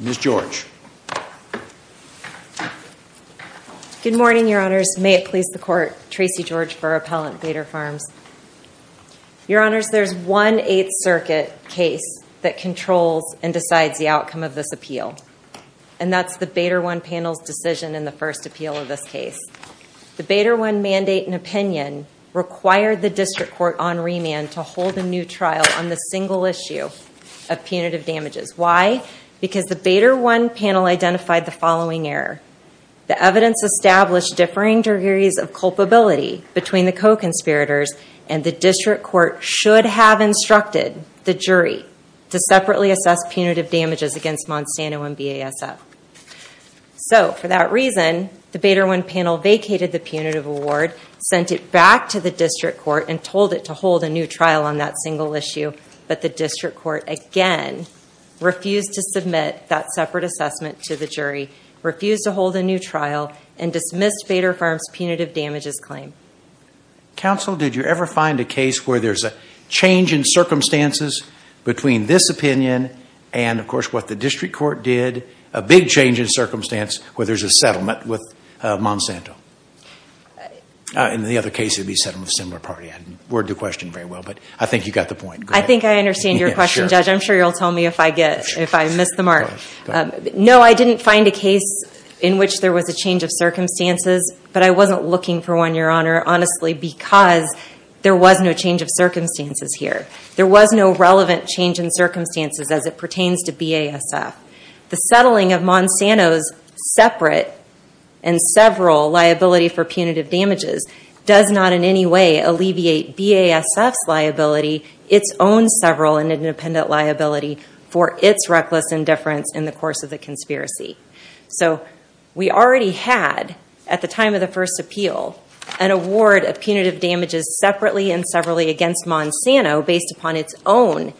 Ms. George. Good morning, Your Honors. May it please the Court, Tracey George for Appellant Bader Farms. Your Honors, there's one Eighth Circuit case that controls and decides the outcome of this appeal. And that's the Bader One panel's decision in the first appeal of this case. The Bader One mandate and opinion required the District Court on remand to hold a new trial on the single issue of punitive damages. Why? Because the Bader One panel identified the following error. The evidence established differing degrees of culpability between the co-conspirators and the District Court should have instructed the jury to separately assess punitive damages against Monsanto and BASF. So, for that reason, the Bader One panel vacated the punitive award, sent it back to the District Court, and told it to hold a new trial on that single issue. But the District Court, again, refused to submit that separate assessment to the jury, refused to hold a new trial, and dismissed Bader Farms' punitive damages claim. Counsel, did you ever find a case where there's a change in circumstances between this opinion and, of course, what the District Court did, a big change in circumstance where there's a settlement with Monsanto? In the other case, it would be a settlement with a similar party. I didn't word the question very well, but I think you got the point. I think I understand your question, Judge. I'm sure you'll tell me if I get, if I miss the mark. No, I didn't find a case in which there was a change of circumstances, but I wasn't looking for one, Your Honor, honestly, because there was no change of circumstances here. There was no relevant change in circumstances as it pertains to BASF. The settling of Monsanto's separate and several liability for punitive damages does not in any way alleviate BASF's liability. It's own several and independent liability for its reckless indifference in the course of the conspiracy. So we already had, at the time of the first appeal, an award of punitive damages separately and severally against Monsanto based upon its own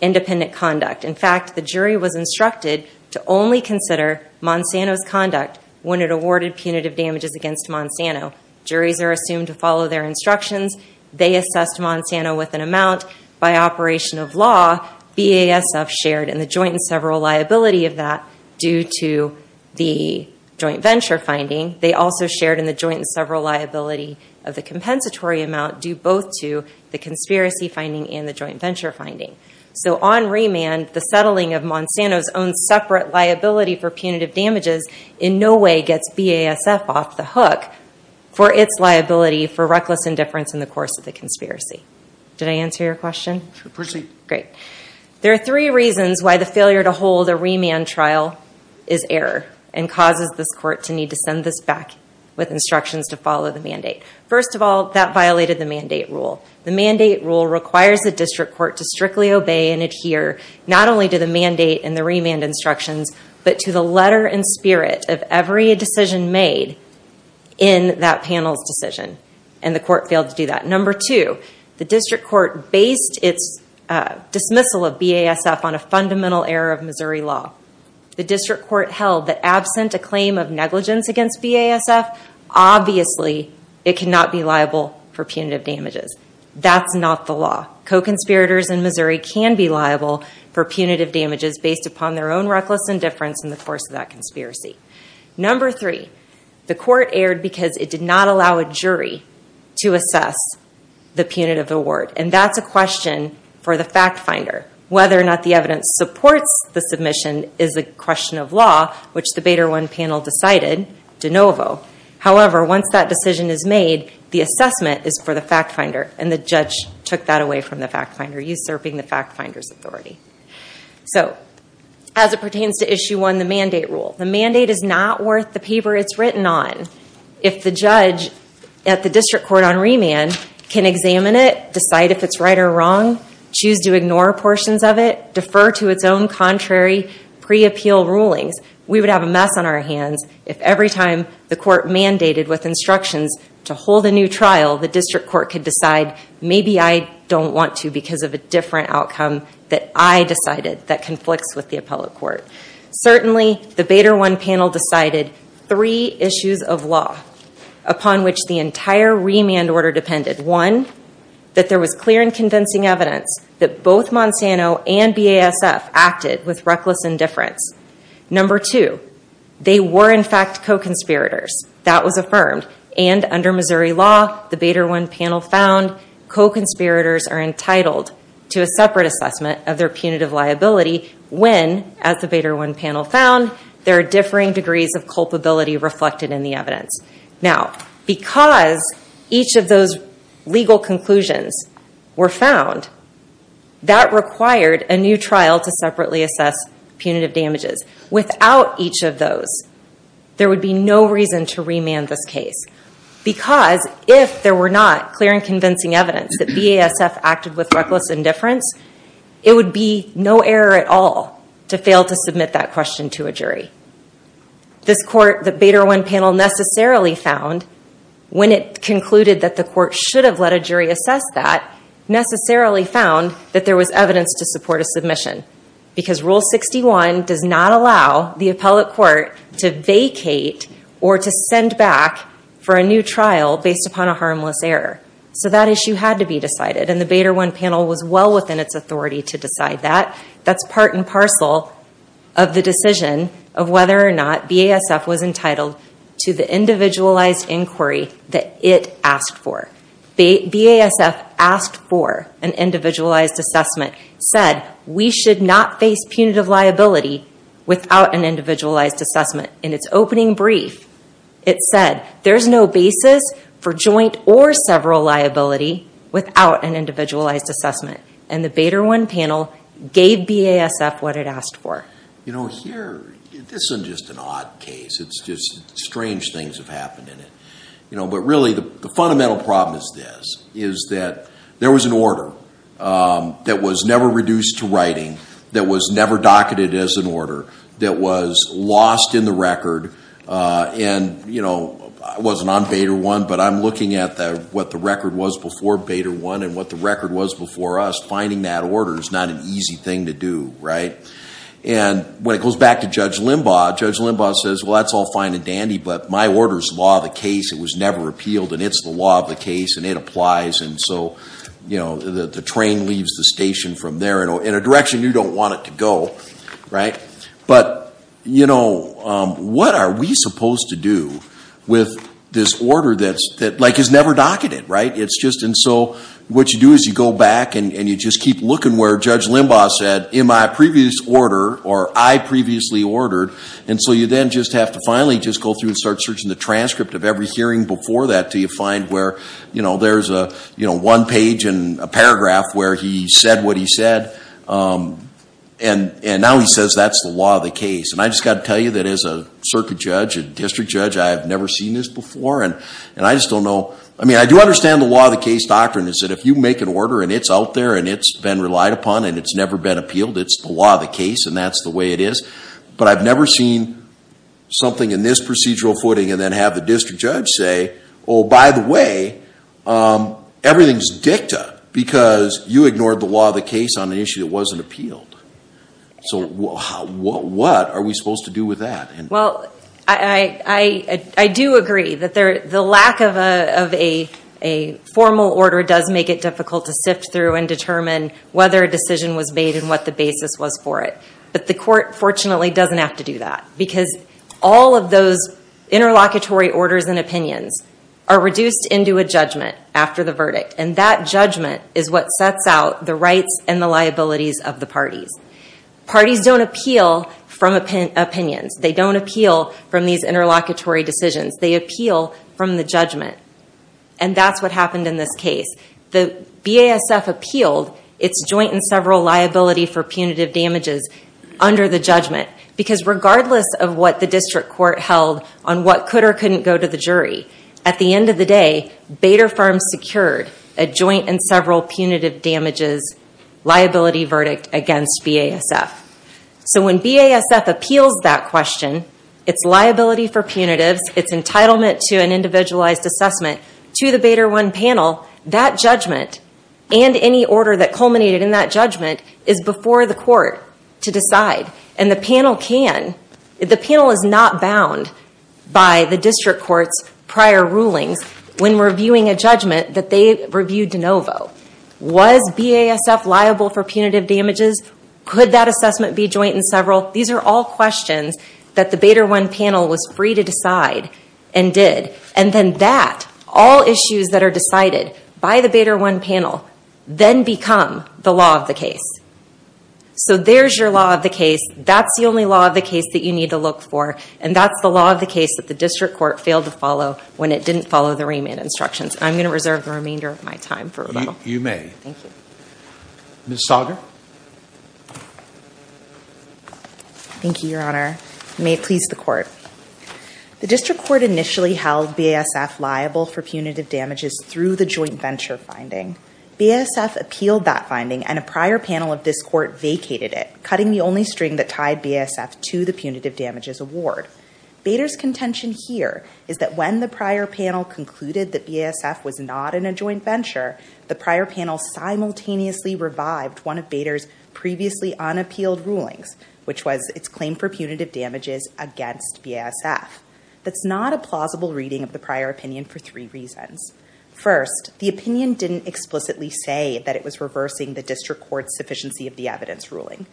independent conduct. In fact, the jury was instructed to only consider Monsanto's conduct when it awarded punitive damages against Monsanto. Juries are assumed to follow their instructions. They assessed Monsanto with an amount by operation of law. BASF shared in the joint and several liability of that due to the joint venture finding. They also shared in the joint and several liability of the compensatory amount due both to the conspiracy finding and the joint venture finding. So on remand, the settling of Monsanto's own separate liability for punitive damages in no way gets BASF off the hook for its liability for reckless indifference in the course of the conspiracy. Did I answer your question? Proceed. Great. There are three reasons why the failure to hold a remand trial is error and causes this court to need to send this back with instructions to follow the mandate. First of all, that violated the mandate rule. The mandate rule requires the district court to strictly obey and adhere not only to the mandate and the remand instructions, but to the letter and decision and the court failed to do that. Number two, the district court based its dismissal of BASF on a fundamental error of Missouri law. The district court held that absent a claim of negligence against BASF, obviously it cannot be liable for punitive damages. That's not the law. Co-conspirators in Missouri can be liable for punitive damages based upon their own reckless indifference in the course of that conspiracy. Number three, the court erred because it did not allow a jury to assess the punitive award, and that's a question for the fact finder. Whether or not the evidence supports the submission is a question of law, which the Bader 1 panel decided de novo. However, once that decision is made, the assessment is for the fact finder, and the judge took that away from the fact finder, usurping the fact finder's authority. So, as it pertains to issue one, the mandate rule. The mandate is not worth the paper it's written on. If the judge at the district court on remand can examine it, decide if it's right or wrong, choose to ignore portions of it, defer to its own contrary pre-appeal rulings, we would have a mess on our hands. If every time the court mandated with instructions to hold a new trial, the district court could decide, maybe I don't want to because of a different outcome that I decided that conflicts with the appellate court. Certainly, the Bader 1 panel decided three issues of law upon which the entire remand order depended. One, that there was clear and convincing evidence that both Monsanto and BASF acted with reckless indifference. Number two, they were in fact co-conspirators. That was affirmed, and under Missouri law, the Bader 1 panel found co-conspirators are entitled to a separate assessment of their punitive liability when, as the Bader 1 panel found, there are differing degrees of culpability reflected in the evidence. Now, because each of those legal conclusions were found, that required a new trial to separately assess punitive damages. Without each of those, there would be no reason to remand this case. Because if there were not clear and convincing evidence that BASF acted with reckless indifference, it would be no error at all to fail to submit that question to a jury. This court, the Bader 1 panel necessarily found, when it concluded that the court should have let a jury assess that, necessarily found that there was evidence to support a submission, because Rule 61 does not allow the appellate court to vacate or to send back for a new trial based upon a harmless error. So that issue had to be decided, and the Bader 1 panel was well within its authority to decide that. That's part and parcel of the decision of whether or not BASF was entitled to the individualized inquiry that it asked for. BASF asked for an individualized assessment, said we should not face punitive liability without an individualized assessment. In its opening brief, it said there's no basis for joint or several liability without an individualized assessment. And the Bader 1 panel gave BASF what it asked for. You know, here, this isn't just an odd case. It's just strange things have happened in it. But really, the fundamental problem is this, is that there was an order that was never reduced to writing, that was never docketed as an order, that was lost in the record, and I wasn't on Bader 1, but I'm looking at what the record was before Bader 1 and what the record was before us. Finding that order is not an easy thing to do, right? And when it goes back to Judge Limbaugh, Judge Limbaugh says, well, that's all fine and dandy, but my order's law of the case. It was never repealed, and it's the law of the case, and it applies. And so the train leaves the station from there in a direction you don't want it to go. Right? But what are we supposed to do with this order that is never docketed, right? It's just, and so what you do is you go back and you just keep looking where Judge Limbaugh said, in my previous order, or I previously ordered. And so you then just have to finally just go through and start searching the transcript of every hearing before that till you find where there's a one page and a paragraph where he said what he said. And now he says that's the law of the case. And I just gotta tell you that as a circuit judge, a district judge, I've never seen this before. And I just don't know, I mean, I do understand the law of the case doctrine is that if you make an order and it's out there and it's been relied upon and it's never been appealed, it's the law of the case and that's the way it is. But I've never seen something in this procedural footing and then have the district judge say, by the way, everything's dicta because you ignored the law of the case on an issue that wasn't appealed. So what are we supposed to do with that? Well, I do agree that the lack of a formal order does make it difficult to sift through and determine whether a decision was made and what the basis was for it. But the court, fortunately, doesn't have to do that. Because all of those interlocutory orders and opinions are reduced into a judgment after the verdict. And that judgment is what sets out the rights and the liabilities of the parties. Parties don't appeal from opinions. They don't appeal from these interlocutory decisions. They appeal from the judgment. And that's what happened in this case. The BASF appealed its joint and several liability for punitive damages under the judgment. Because regardless of what the district court held on what could or couldn't go to the jury, at the end of the day, Bader firm secured a joint and several punitive damages liability verdict against BASF. So when BASF appeals that question, its liability for punitives, its entitlement to an individualized assessment to the Bader 1 panel, that judgment and any order that culminated in that judgment is before the court to decide. And the panel can, the panel is not bound by the district court's prior rulings when reviewing a judgment that they reviewed de novo. Was BASF liable for punitive damages? Could that assessment be joint and several? These are all questions that the Bader 1 panel was free to decide and did. And then that, all issues that are decided by the Bader 1 panel, then become the law of the case. So there's your law of the case. That's the only law of the case that you need to look for. And that's the law of the case that the district court failed to follow when it didn't follow the remand instructions. And I'm going to reserve the remainder of my time for rebuttal. You may. Thank you. Ms. Sager. Thank you, your honor. May it please the court. The district court initially held BASF liable for punitive damages through the joint venture finding. BASF appealed that finding and a prior panel of this court vacated it, cutting the only string that tied BASF to the punitive damages award. Bader's contention here is that when the prior panel concluded that BASF was not in a joint venture, the prior panel simultaneously revived one of Bader's previously unappealed rulings, which was its claim for punitive damages against BASF. That's not a plausible reading of the prior opinion for three reasons. First, the opinion didn't explicitly say that it was reversing the district court's sufficiency of the evidence ruling.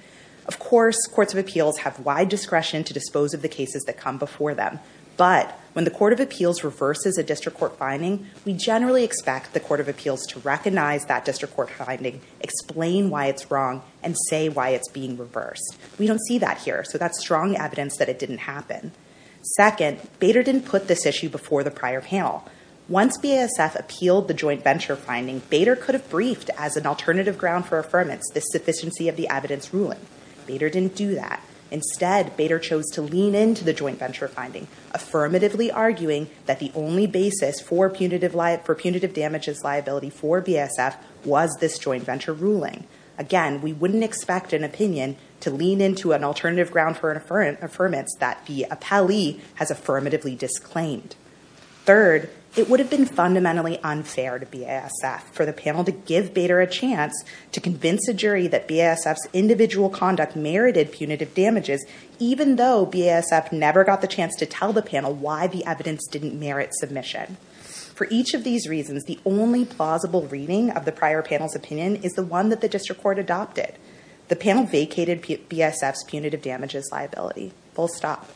Of course, courts of appeals have wide discretion to dispose of the cases that come before them. But when the court of appeals reverses a district court finding, we generally expect the court of appeals to recognize that district court finding, explain why it's wrong, and say why it's being reversed. We don't see that here. So that's strong evidence that it didn't happen. Second, Bader didn't put this issue before the prior panel. Once BASF appealed the joint venture finding, Bader could have briefed as an alternative ground for affirmance the sufficiency of the evidence ruling. Bader didn't do that. Instead, Bader chose to lean into the joint venture finding, affirmatively arguing that the only basis for punitive damages liability for BASF was this joint venture ruling. Again, we wouldn't expect an opinion to lean into an alternative ground for an affirmance that the appellee has affirmatively disclaimed. Third, it would have been fundamentally unfair to BASF for the panel to give Bader a chance to convince a jury that BASF's individual conduct merited punitive damages, even though BASF never got the chance to tell the panel why the evidence didn't merit submission. For each of these reasons, the only plausible reading of the prior panel's opinion is the one that the district court adopted. The panel vacated BASF's punitive damages liability, full stop.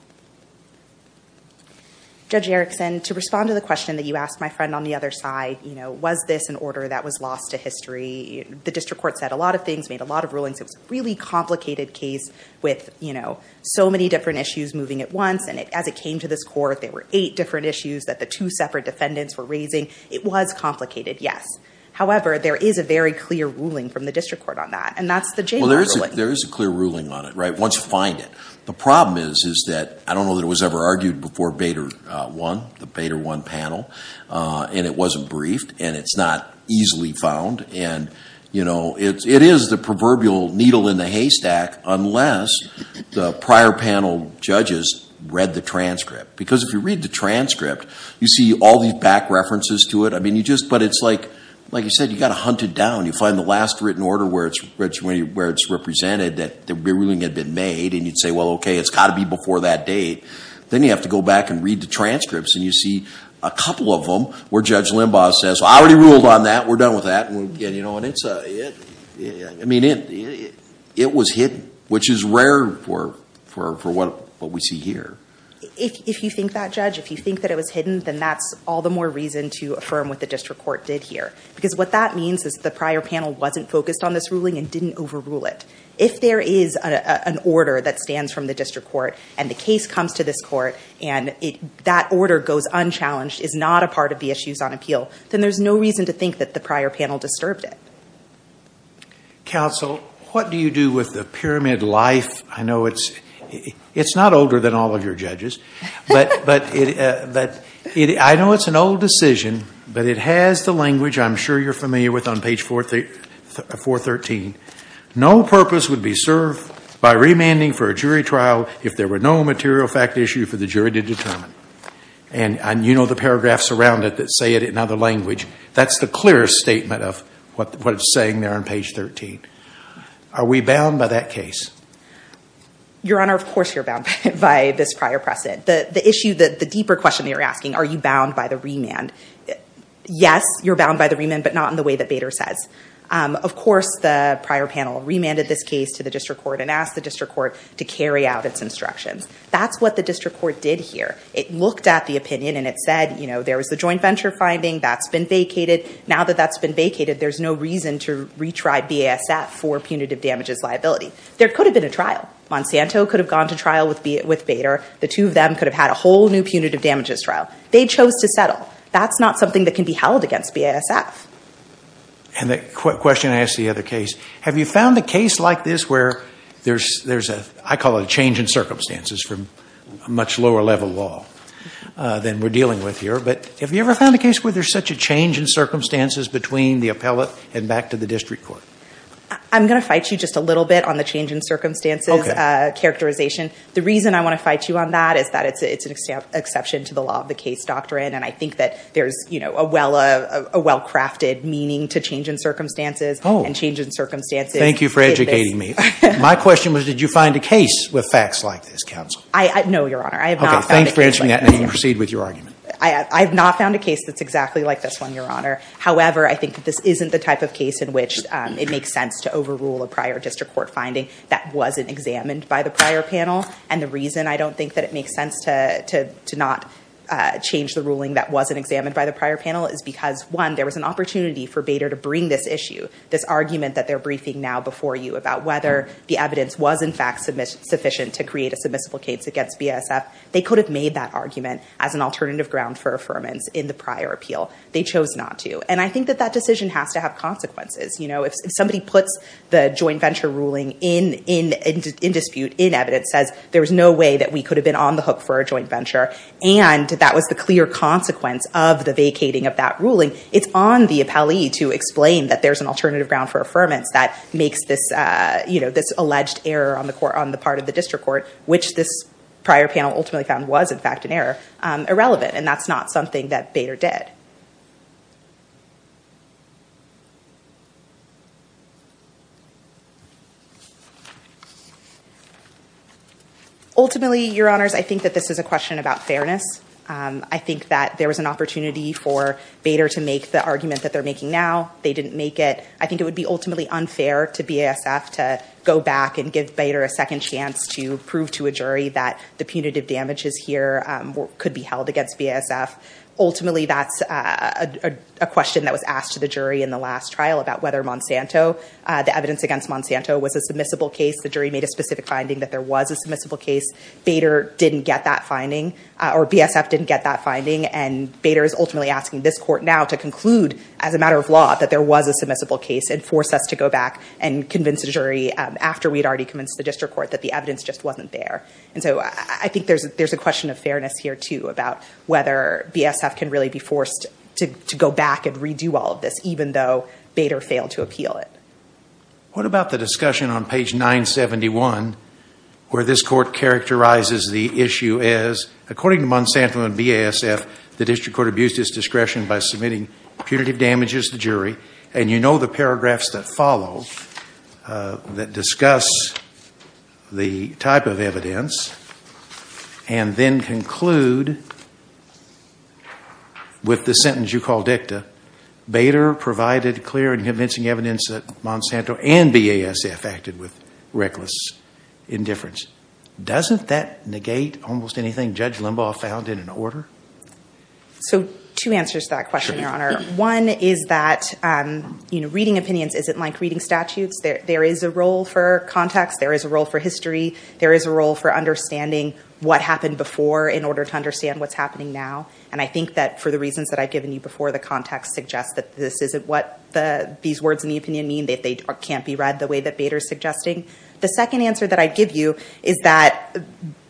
Judge Erickson, to respond to the question that you asked my friend on the other side, was this an order that was lost to history? The district court said a lot of things, made a lot of rulings. It was a really complicated case with so many different issues moving at once. As it came to this court, there were eight different issues that the two separate defendants were raising. It was complicated, yes. However, there is a very clear ruling from the district court on that, and that's the JMR ruling. Well, there is a clear ruling on it, once you find it. The problem is, is that, I don't know that it was ever argued before Bader 1, the Bader 1 panel, and it wasn't briefed, and it's not easily found. And it is the proverbial needle in the haystack, unless the prior panel judges read the transcript. Because if you read the transcript, you see all these back references to it. I mean, you just, but it's like, like you said, you got to hunt it down. You find the last written order where it's represented that the ruling had been made, and you'd say, well, okay, it's got to be before that date. Then you have to go back and read the transcripts, and you see a couple of them where Judge Limbaugh says, I already ruled on that, we're done with that. And it's a, I mean, it was hidden, which is rare for what we see here. If you think that, Judge, if you think that it was hidden, then that's all the more reason to affirm what the district court did here. Because what that means is the prior panel wasn't focused on this ruling and didn't overrule it. If there is an order that stands from the district court, and the case comes to this court, and that order goes unchallenged, is not a part of the issues on appeal, then there's no reason to think that the prior panel disturbed it. Counsel, what do you do with the pyramid life? I know it's, it's not older than all of your judges. But, but it, but it, I know it's an old decision, but it has the language I'm sure you're familiar with on page 4, 413. No purpose would be served by remanding for a jury trial if there were no material fact issue for the jury to determine. And, and you know the paragraphs around it that say it in other language. That's the clearest statement of what, what it's saying there on page 13. Are we bound by that case? Your Honor, of course you're bound by this prior precedent. The, the issue that, the deeper question you're asking, are you bound by the case, but not in the way that Bader says. Of course, the prior panel remanded this case to the district court and asked the district court to carry out its instructions. That's what the district court did here. It looked at the opinion and it said, you know, there was the joint venture finding, that's been vacated. Now that that's been vacated, there's no reason to retry BASF for punitive damages liability. There could have been a trial. Monsanto could have gone to trial with Bader. The two of them could have had a whole new punitive damages trial. They chose to settle. That's not something that can be held against BASF. And the question I asked the other case, have you found a case like this where there's, there's a, I call it a change in circumstances from a much lower level law. Then we're dealing with here, but have you ever found a case where there's such a change in circumstances between the appellate and back to the district court? I'm going to fight you just a little bit on the change in circumstances. Okay. Characterization. The reason I want to fight you on that is that it's, it's an exception to the law of the case doctrine. And I think that there's, you know, a well, a well-crafted meaning to change in circumstances and change in circumstances. Thank you for educating me. My question was, did you find a case with facts like this counsel? I, no, your honor, I have not found a case like this. Okay, thanks for answering that and you can proceed with your argument. I, I've not found a case that's exactly like this one, your honor. However, I think that this isn't the type of case in which it makes sense to overrule a prior district court finding that wasn't examined by the prior panel. And the reason I don't think that it makes sense to, to, to not change the ruling that wasn't examined by the prior panel is because one, there was an opportunity for Bader to bring this issue, this argument that they're briefing now before you about whether the evidence was in fact submiss, sufficient to create a submissible case against BASF. They could have made that argument as an alternative ground for affirmance in the prior appeal. They chose not to. And I think that that decision has to have consequences. You know, if somebody puts the joint venture ruling in, in, in dispute, in evidence, says there was no way that we could have been on the hook for a joint venture, and that was the clear consequence of the vacating of that ruling. It's on the appellee to explain that there's an alternative ground for affirmance that makes this you know, this alleged error on the court, on the part of the district court, which this prior panel ultimately found was, in fact, an error, irrelevant, and that's not something that Bader did. Ultimately, your honors, I think that this is a question about fairness. I think that there was an opportunity for Bader to make the argument that they're making now, they didn't make it. I think it would be ultimately unfair to BASF to go back and give Bader a second chance to prove to a jury that the punitive damages here could be held against BASF. Ultimately, that's a, a, a question that was asked to the jury in the last trial about whether Monsanto the evidence against Monsanto was a submissible case. The jury made a specific finding that there was a submissible case. Bader didn't get that finding, or BASF didn't get that finding, and Bader is ultimately asking this court now to conclude as a matter of law, that there was a submissible case, and force us to go back and convince the jury, after we had already convinced the district court, that the evidence just wasn't there. And so, I, I think there's, there's a question of fairness here, too, about whether BASF can really be forced to, to go back and redo all of this, even though Bader failed to appeal it. What about the discussion on page 971, where this court characterizes the issue as, according to Monsanto and BASF, the district court abused its discretion by submitting punitive damages to jury, and you know the paragraphs that follow, that discuss the type of evidence, and then conclude with the sentence you call dicta, Bader provided clear and Monsanto and BASF acted with reckless indifference. Doesn't that negate almost anything Judge Limbaugh found in an order? So, two answers to that question, Your Honor. One is that, you know, reading opinions isn't like reading statutes. There, there is a role for context. There is a role for history. There is a role for understanding what happened before, in order to understand what's happening now. And I think that, for the reasons that I've given you before, the context suggests that this isn't what the, these words in the opinion mean. They can't be read the way that Bader's suggesting. The second answer that I'd give you is that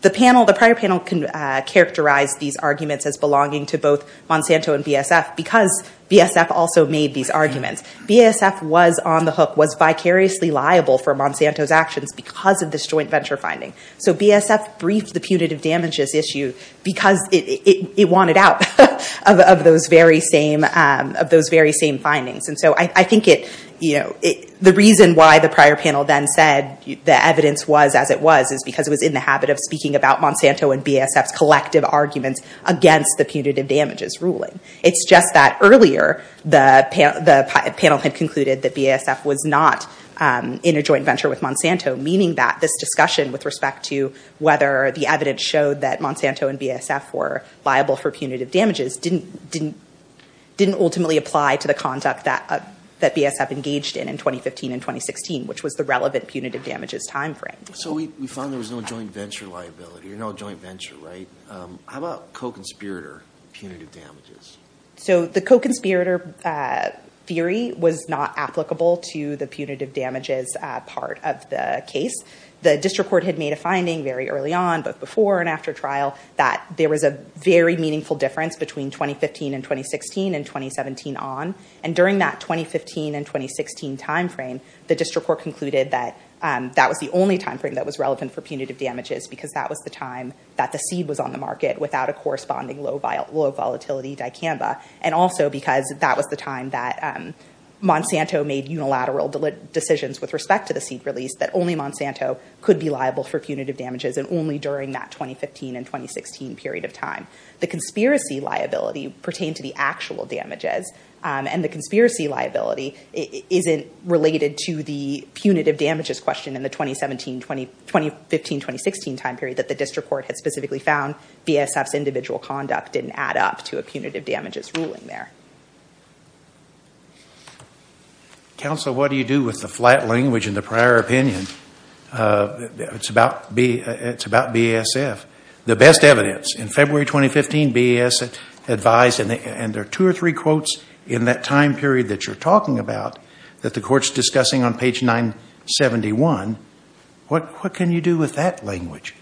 the panel, the prior panel can characterize these arguments as belonging to both Monsanto and BASF because BASF also made these arguments. BASF was on the hook, was vicariously liable for Monsanto's actions because of this joint venture finding. So BASF briefed the punitive damages issue because it, it, it wanted out of, of those very same of those very same findings. And so I, I think it, you know, it, the reason why the prior panel then said the evidence was as it was, is because it was in the habit of speaking about Monsanto and BASF's collective arguments against the punitive damages ruling. It's just that earlier, the panel, the panel had concluded that BASF was not in a joint venture with Monsanto, meaning that this discussion with respect to whether the evidence showed that Monsanto and BASF were liable for punitive damages didn't, didn't, didn't ultimately apply to the conduct that, that BASF engaged in, in 2015 and 2016, which was the relevant punitive damages timeframe. So we, we found there was no joint venture liability, or no joint venture, right? How about co-conspirator punitive damages? So the co-conspirator theory was not applicable to the punitive damages part of the case. The district court had made a finding very early on, both before and after trial, that there was a very meaningful difference between 2015 and 2016 and 2017 on, and during that 2015 and 2016 timeframe, the district court concluded that that was the only timeframe that was relevant for punitive damages because that was the time that the seed was on the market without a corresponding low, low volatility dicamba, and also because that was the time that Monsanto made unilateral decisions with respect to the seed release, that only Monsanto could be liable for punitive damages, and only during that 2015 and 2016 period of time. The conspiracy liability pertained to the actual damages, and the conspiracy liability isn't related to the punitive damages question in the 2017, 2015, 2016 time period that the district court had specifically found. BASF's individual conduct didn't add up to a punitive damages ruling there. Counsel, what do you do with the flat language in the prior opinion? It's about B, it's about BASF. The best evidence in February 2015, BASF advised, and there are two or three quotes in that time period that you're talking about that the court's discussing on page 971, what, what can you do with that language?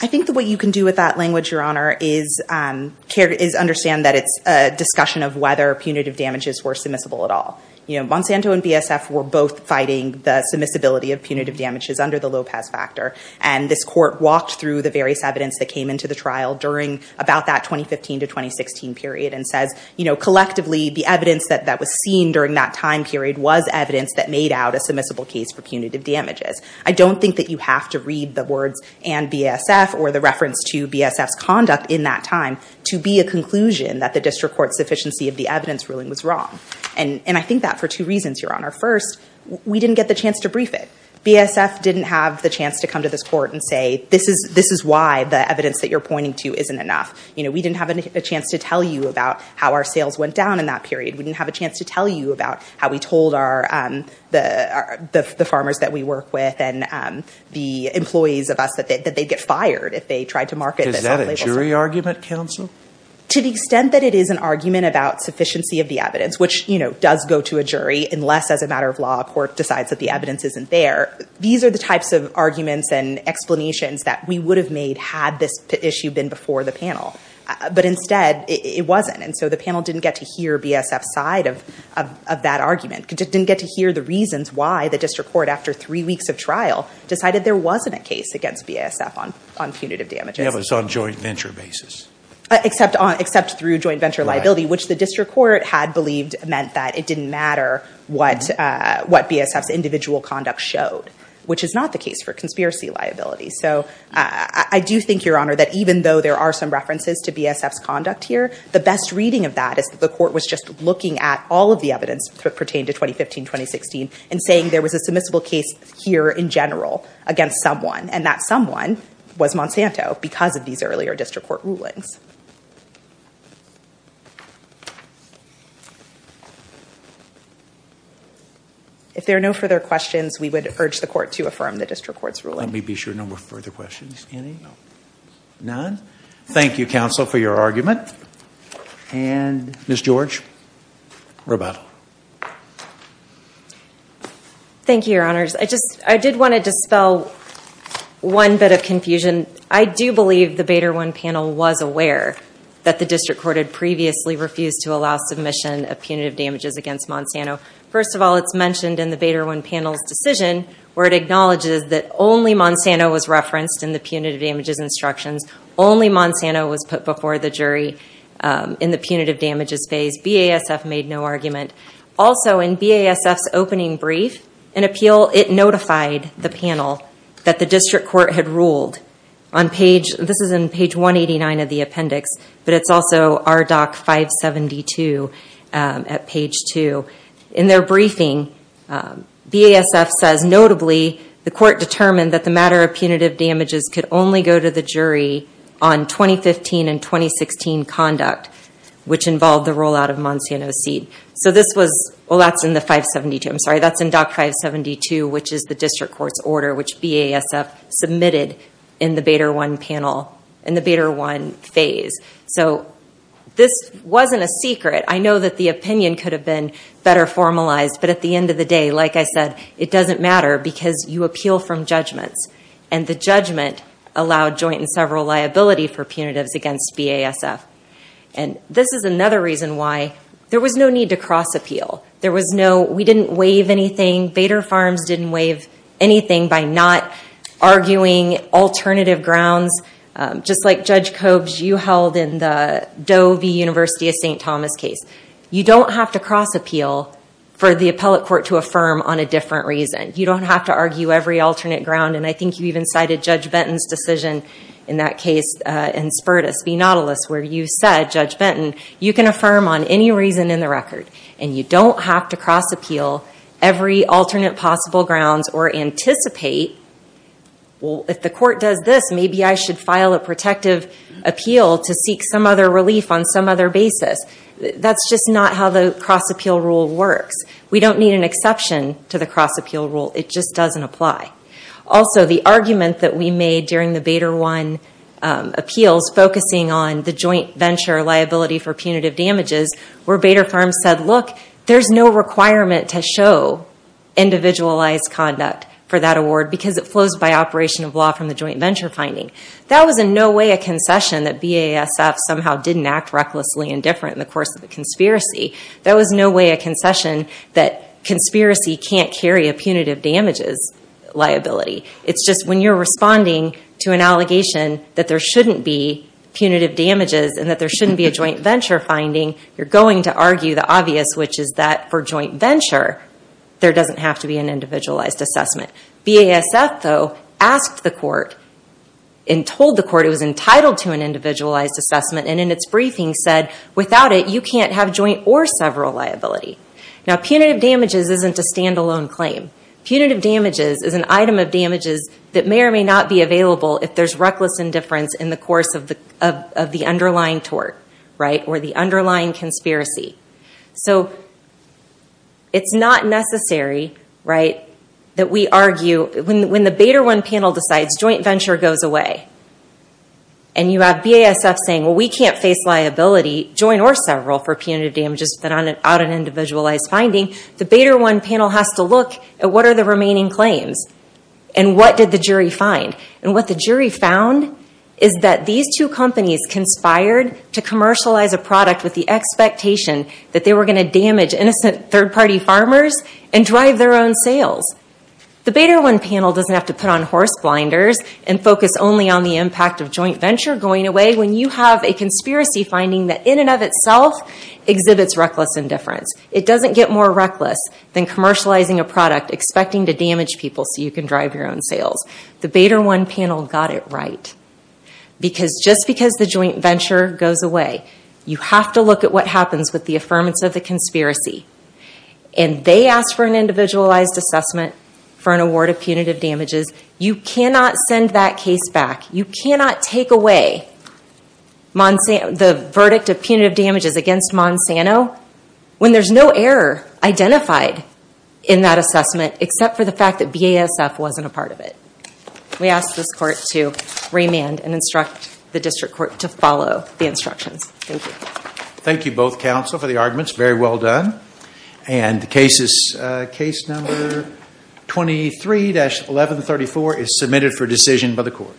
I think that what you can do with that language, your honor, is care, is understand that it's a discussion of whether punitive damages were submissible at all. You know, Monsanto and BASF were both fighting the submissibility of punitive damages under the Lopez factor, and this court walked through the various evidence that came into the trial during about that 2015 to 2016 period and says, you know, collectively, the evidence that, that was seen during that time period was evidence that made out a submissible case for punitive damages. I don't think that you have to read the words and BASF or the reference to BASF's conduct in that time to be a conclusion that the district court's sufficiency of the evidence ruling was wrong. And, and I think that for two reasons, your honor. First, we didn't get the chance to brief it. BASF didn't have the chance to come to this court and say, this is, this is why the evidence that you're pointing to isn't enough. You know, we didn't have a chance to tell you about how our sales went down in that period. We didn't have a chance to tell you about how we told our, the farmers that we work with and the employees of us that they'd get fired if they tried to market. Is that a jury argument, counsel? To the extent that it is an argument about sufficiency of the evidence, which, you know, does go to a jury, unless as a matter of law a court decides that the evidence isn't there. These are the types of arguments and explanations that we would have made had this issue been before the panel. But instead, it, it wasn't, and so the panel didn't get to hear BASF's side of, of, of that argument. It didn't get to hear the reasons why the district court, after three weeks of trial, decided there wasn't a case against BASF on, on punitive damages. Yeah, but it's on joint venture basis. Except on, except through joint venture liability, which the district court had believed meant that it didn't matter what BASF's individual conduct showed, which is not the case for conspiracy liability. So I, I do think, Your Honor, that even though there are some references to BASF's conduct here, the best reading of that is that the court was just looking at all of the evidence that pertained to 2015, 2016, and saying there was a submissible case here in general against someone, and that someone was Monsanto because of these earlier district court rulings. If there are no further questions, we would urge the court to affirm the district court's ruling. Let me be sure no more further questions. Any? None? Thank you, counsel, for your argument, and Ms. George, we're about. Thank you, Your Honors. I just, I did want to dispel one bit of confusion. I do believe the Bader 1 panel was aware that the district court had previously refused to allow submission of punitive damages against Monsanto. First of all, it's mentioned in the Bader 1 panel's decision, where it acknowledges that only Monsanto was referenced in the punitive damages instructions, only Monsanto was put before the jury in the punitive damages phase. BASF made no argument. Also, in BASF's opening brief, an appeal, it notified the panel that the district court had ruled. On page, this is in page 189 of the appendix, but it's also RDoC 572 at page two. In their briefing, BASF says, notably, the court determined that the matter of punitive damages could only go to the jury on 2015 and 2016 conduct, which involved the rollout of Monsanto's seed. So this was, well, that's in the 572, I'm sorry, that's in Doc 572, which is the district court's order, which BASF submitted in the Bader 1 panel, in the Bader 1 phase. So this wasn't a secret. I know that the opinion could have been better formalized, but at the end of the day, like I said, it doesn't matter because you appeal from judgments. And the judgment allowed joint and several liability for punitives against BASF. And this is another reason why there was no need to cross-appeal. There was no, we didn't waive anything. Bader Farms didn't waive anything by not arguing alternative grounds. Just like Judge Cobes, you held in the Doe v. University of St. Thomas case. You don't have to cross-appeal for the appellate court to affirm on a different reason. You don't have to argue every alternate ground. And I think you even cited Judge Benton's decision in that case in Spurtus v. Nautilus, where you said, Judge Benton, you can affirm on any reason in the record. And you don't have to cross-appeal every alternate possible grounds or anticipate. Well, if the court does this, maybe I should file a protective appeal to seek some other relief on some other basis. That's just not how the cross-appeal rule works. We don't need an exception to the cross-appeal rule. It just doesn't apply. Also, the argument that we made during the Bader One appeals focusing on the joint venture liability for punitive damages, where Bader Farms said, look, there's no requirement to show individualized conduct for that award because it flows by operation of law from the joint venture finding. That was in no way a concession that BASF somehow didn't act recklessly and different in the course of the conspiracy. That was no way a concession that conspiracy can't carry a punitive damages liability. It's just when you're responding to an allegation that there shouldn't be punitive damages and that there shouldn't be a joint venture finding, you're going to argue the obvious, which is that for joint venture, there doesn't have to be an individualized assessment. BASF, though, asked the court and told the court it was entitled to an individualized assessment and in its briefing said, without it, you can't have joint or several liability. Punitive damages isn't a standalone claim. Punitive damages is an item of damages that may or may not be available if there's reckless indifference in the course of the underlying tort or the underlying conspiracy. So, it's not necessary that we argue, when the Bader 1 panel decides joint venture goes away and you have BASF saying, well, we can't face liability, joint or several, for punitive damages without an individualized finding, the Bader 1 panel has to look at what are the remaining claims and what did the jury find. What the jury found is that these two companies conspired to commercialize a product with the expectation that they were going to damage innocent third-party farmers and drive their own sales. The Bader 1 panel doesn't have to put on horse blinders and focus only on the impact of joint venture going away when you have a conspiracy finding that, in and of itself, exhibits reckless indifference. It doesn't get more reckless than commercializing a product, expecting to damage people so you can drive your own sales. The Bader 1 panel got it right, because just because the joint venture goes away, you have to look at what happens with the affirmance of the conspiracy. They asked for an individualized assessment for an award of punitive damages. You cannot send that case back. You cannot take away the verdict of punitive damages against Monsanto when there's no error identified in that assessment except for the fact that BASF wasn't a part of it. We ask this court to remand and instruct the district court to follow the instructions. Thank you. Thank you both counsel for the arguments. Very well done. And case number 23-1134 is submitted for decision by the court.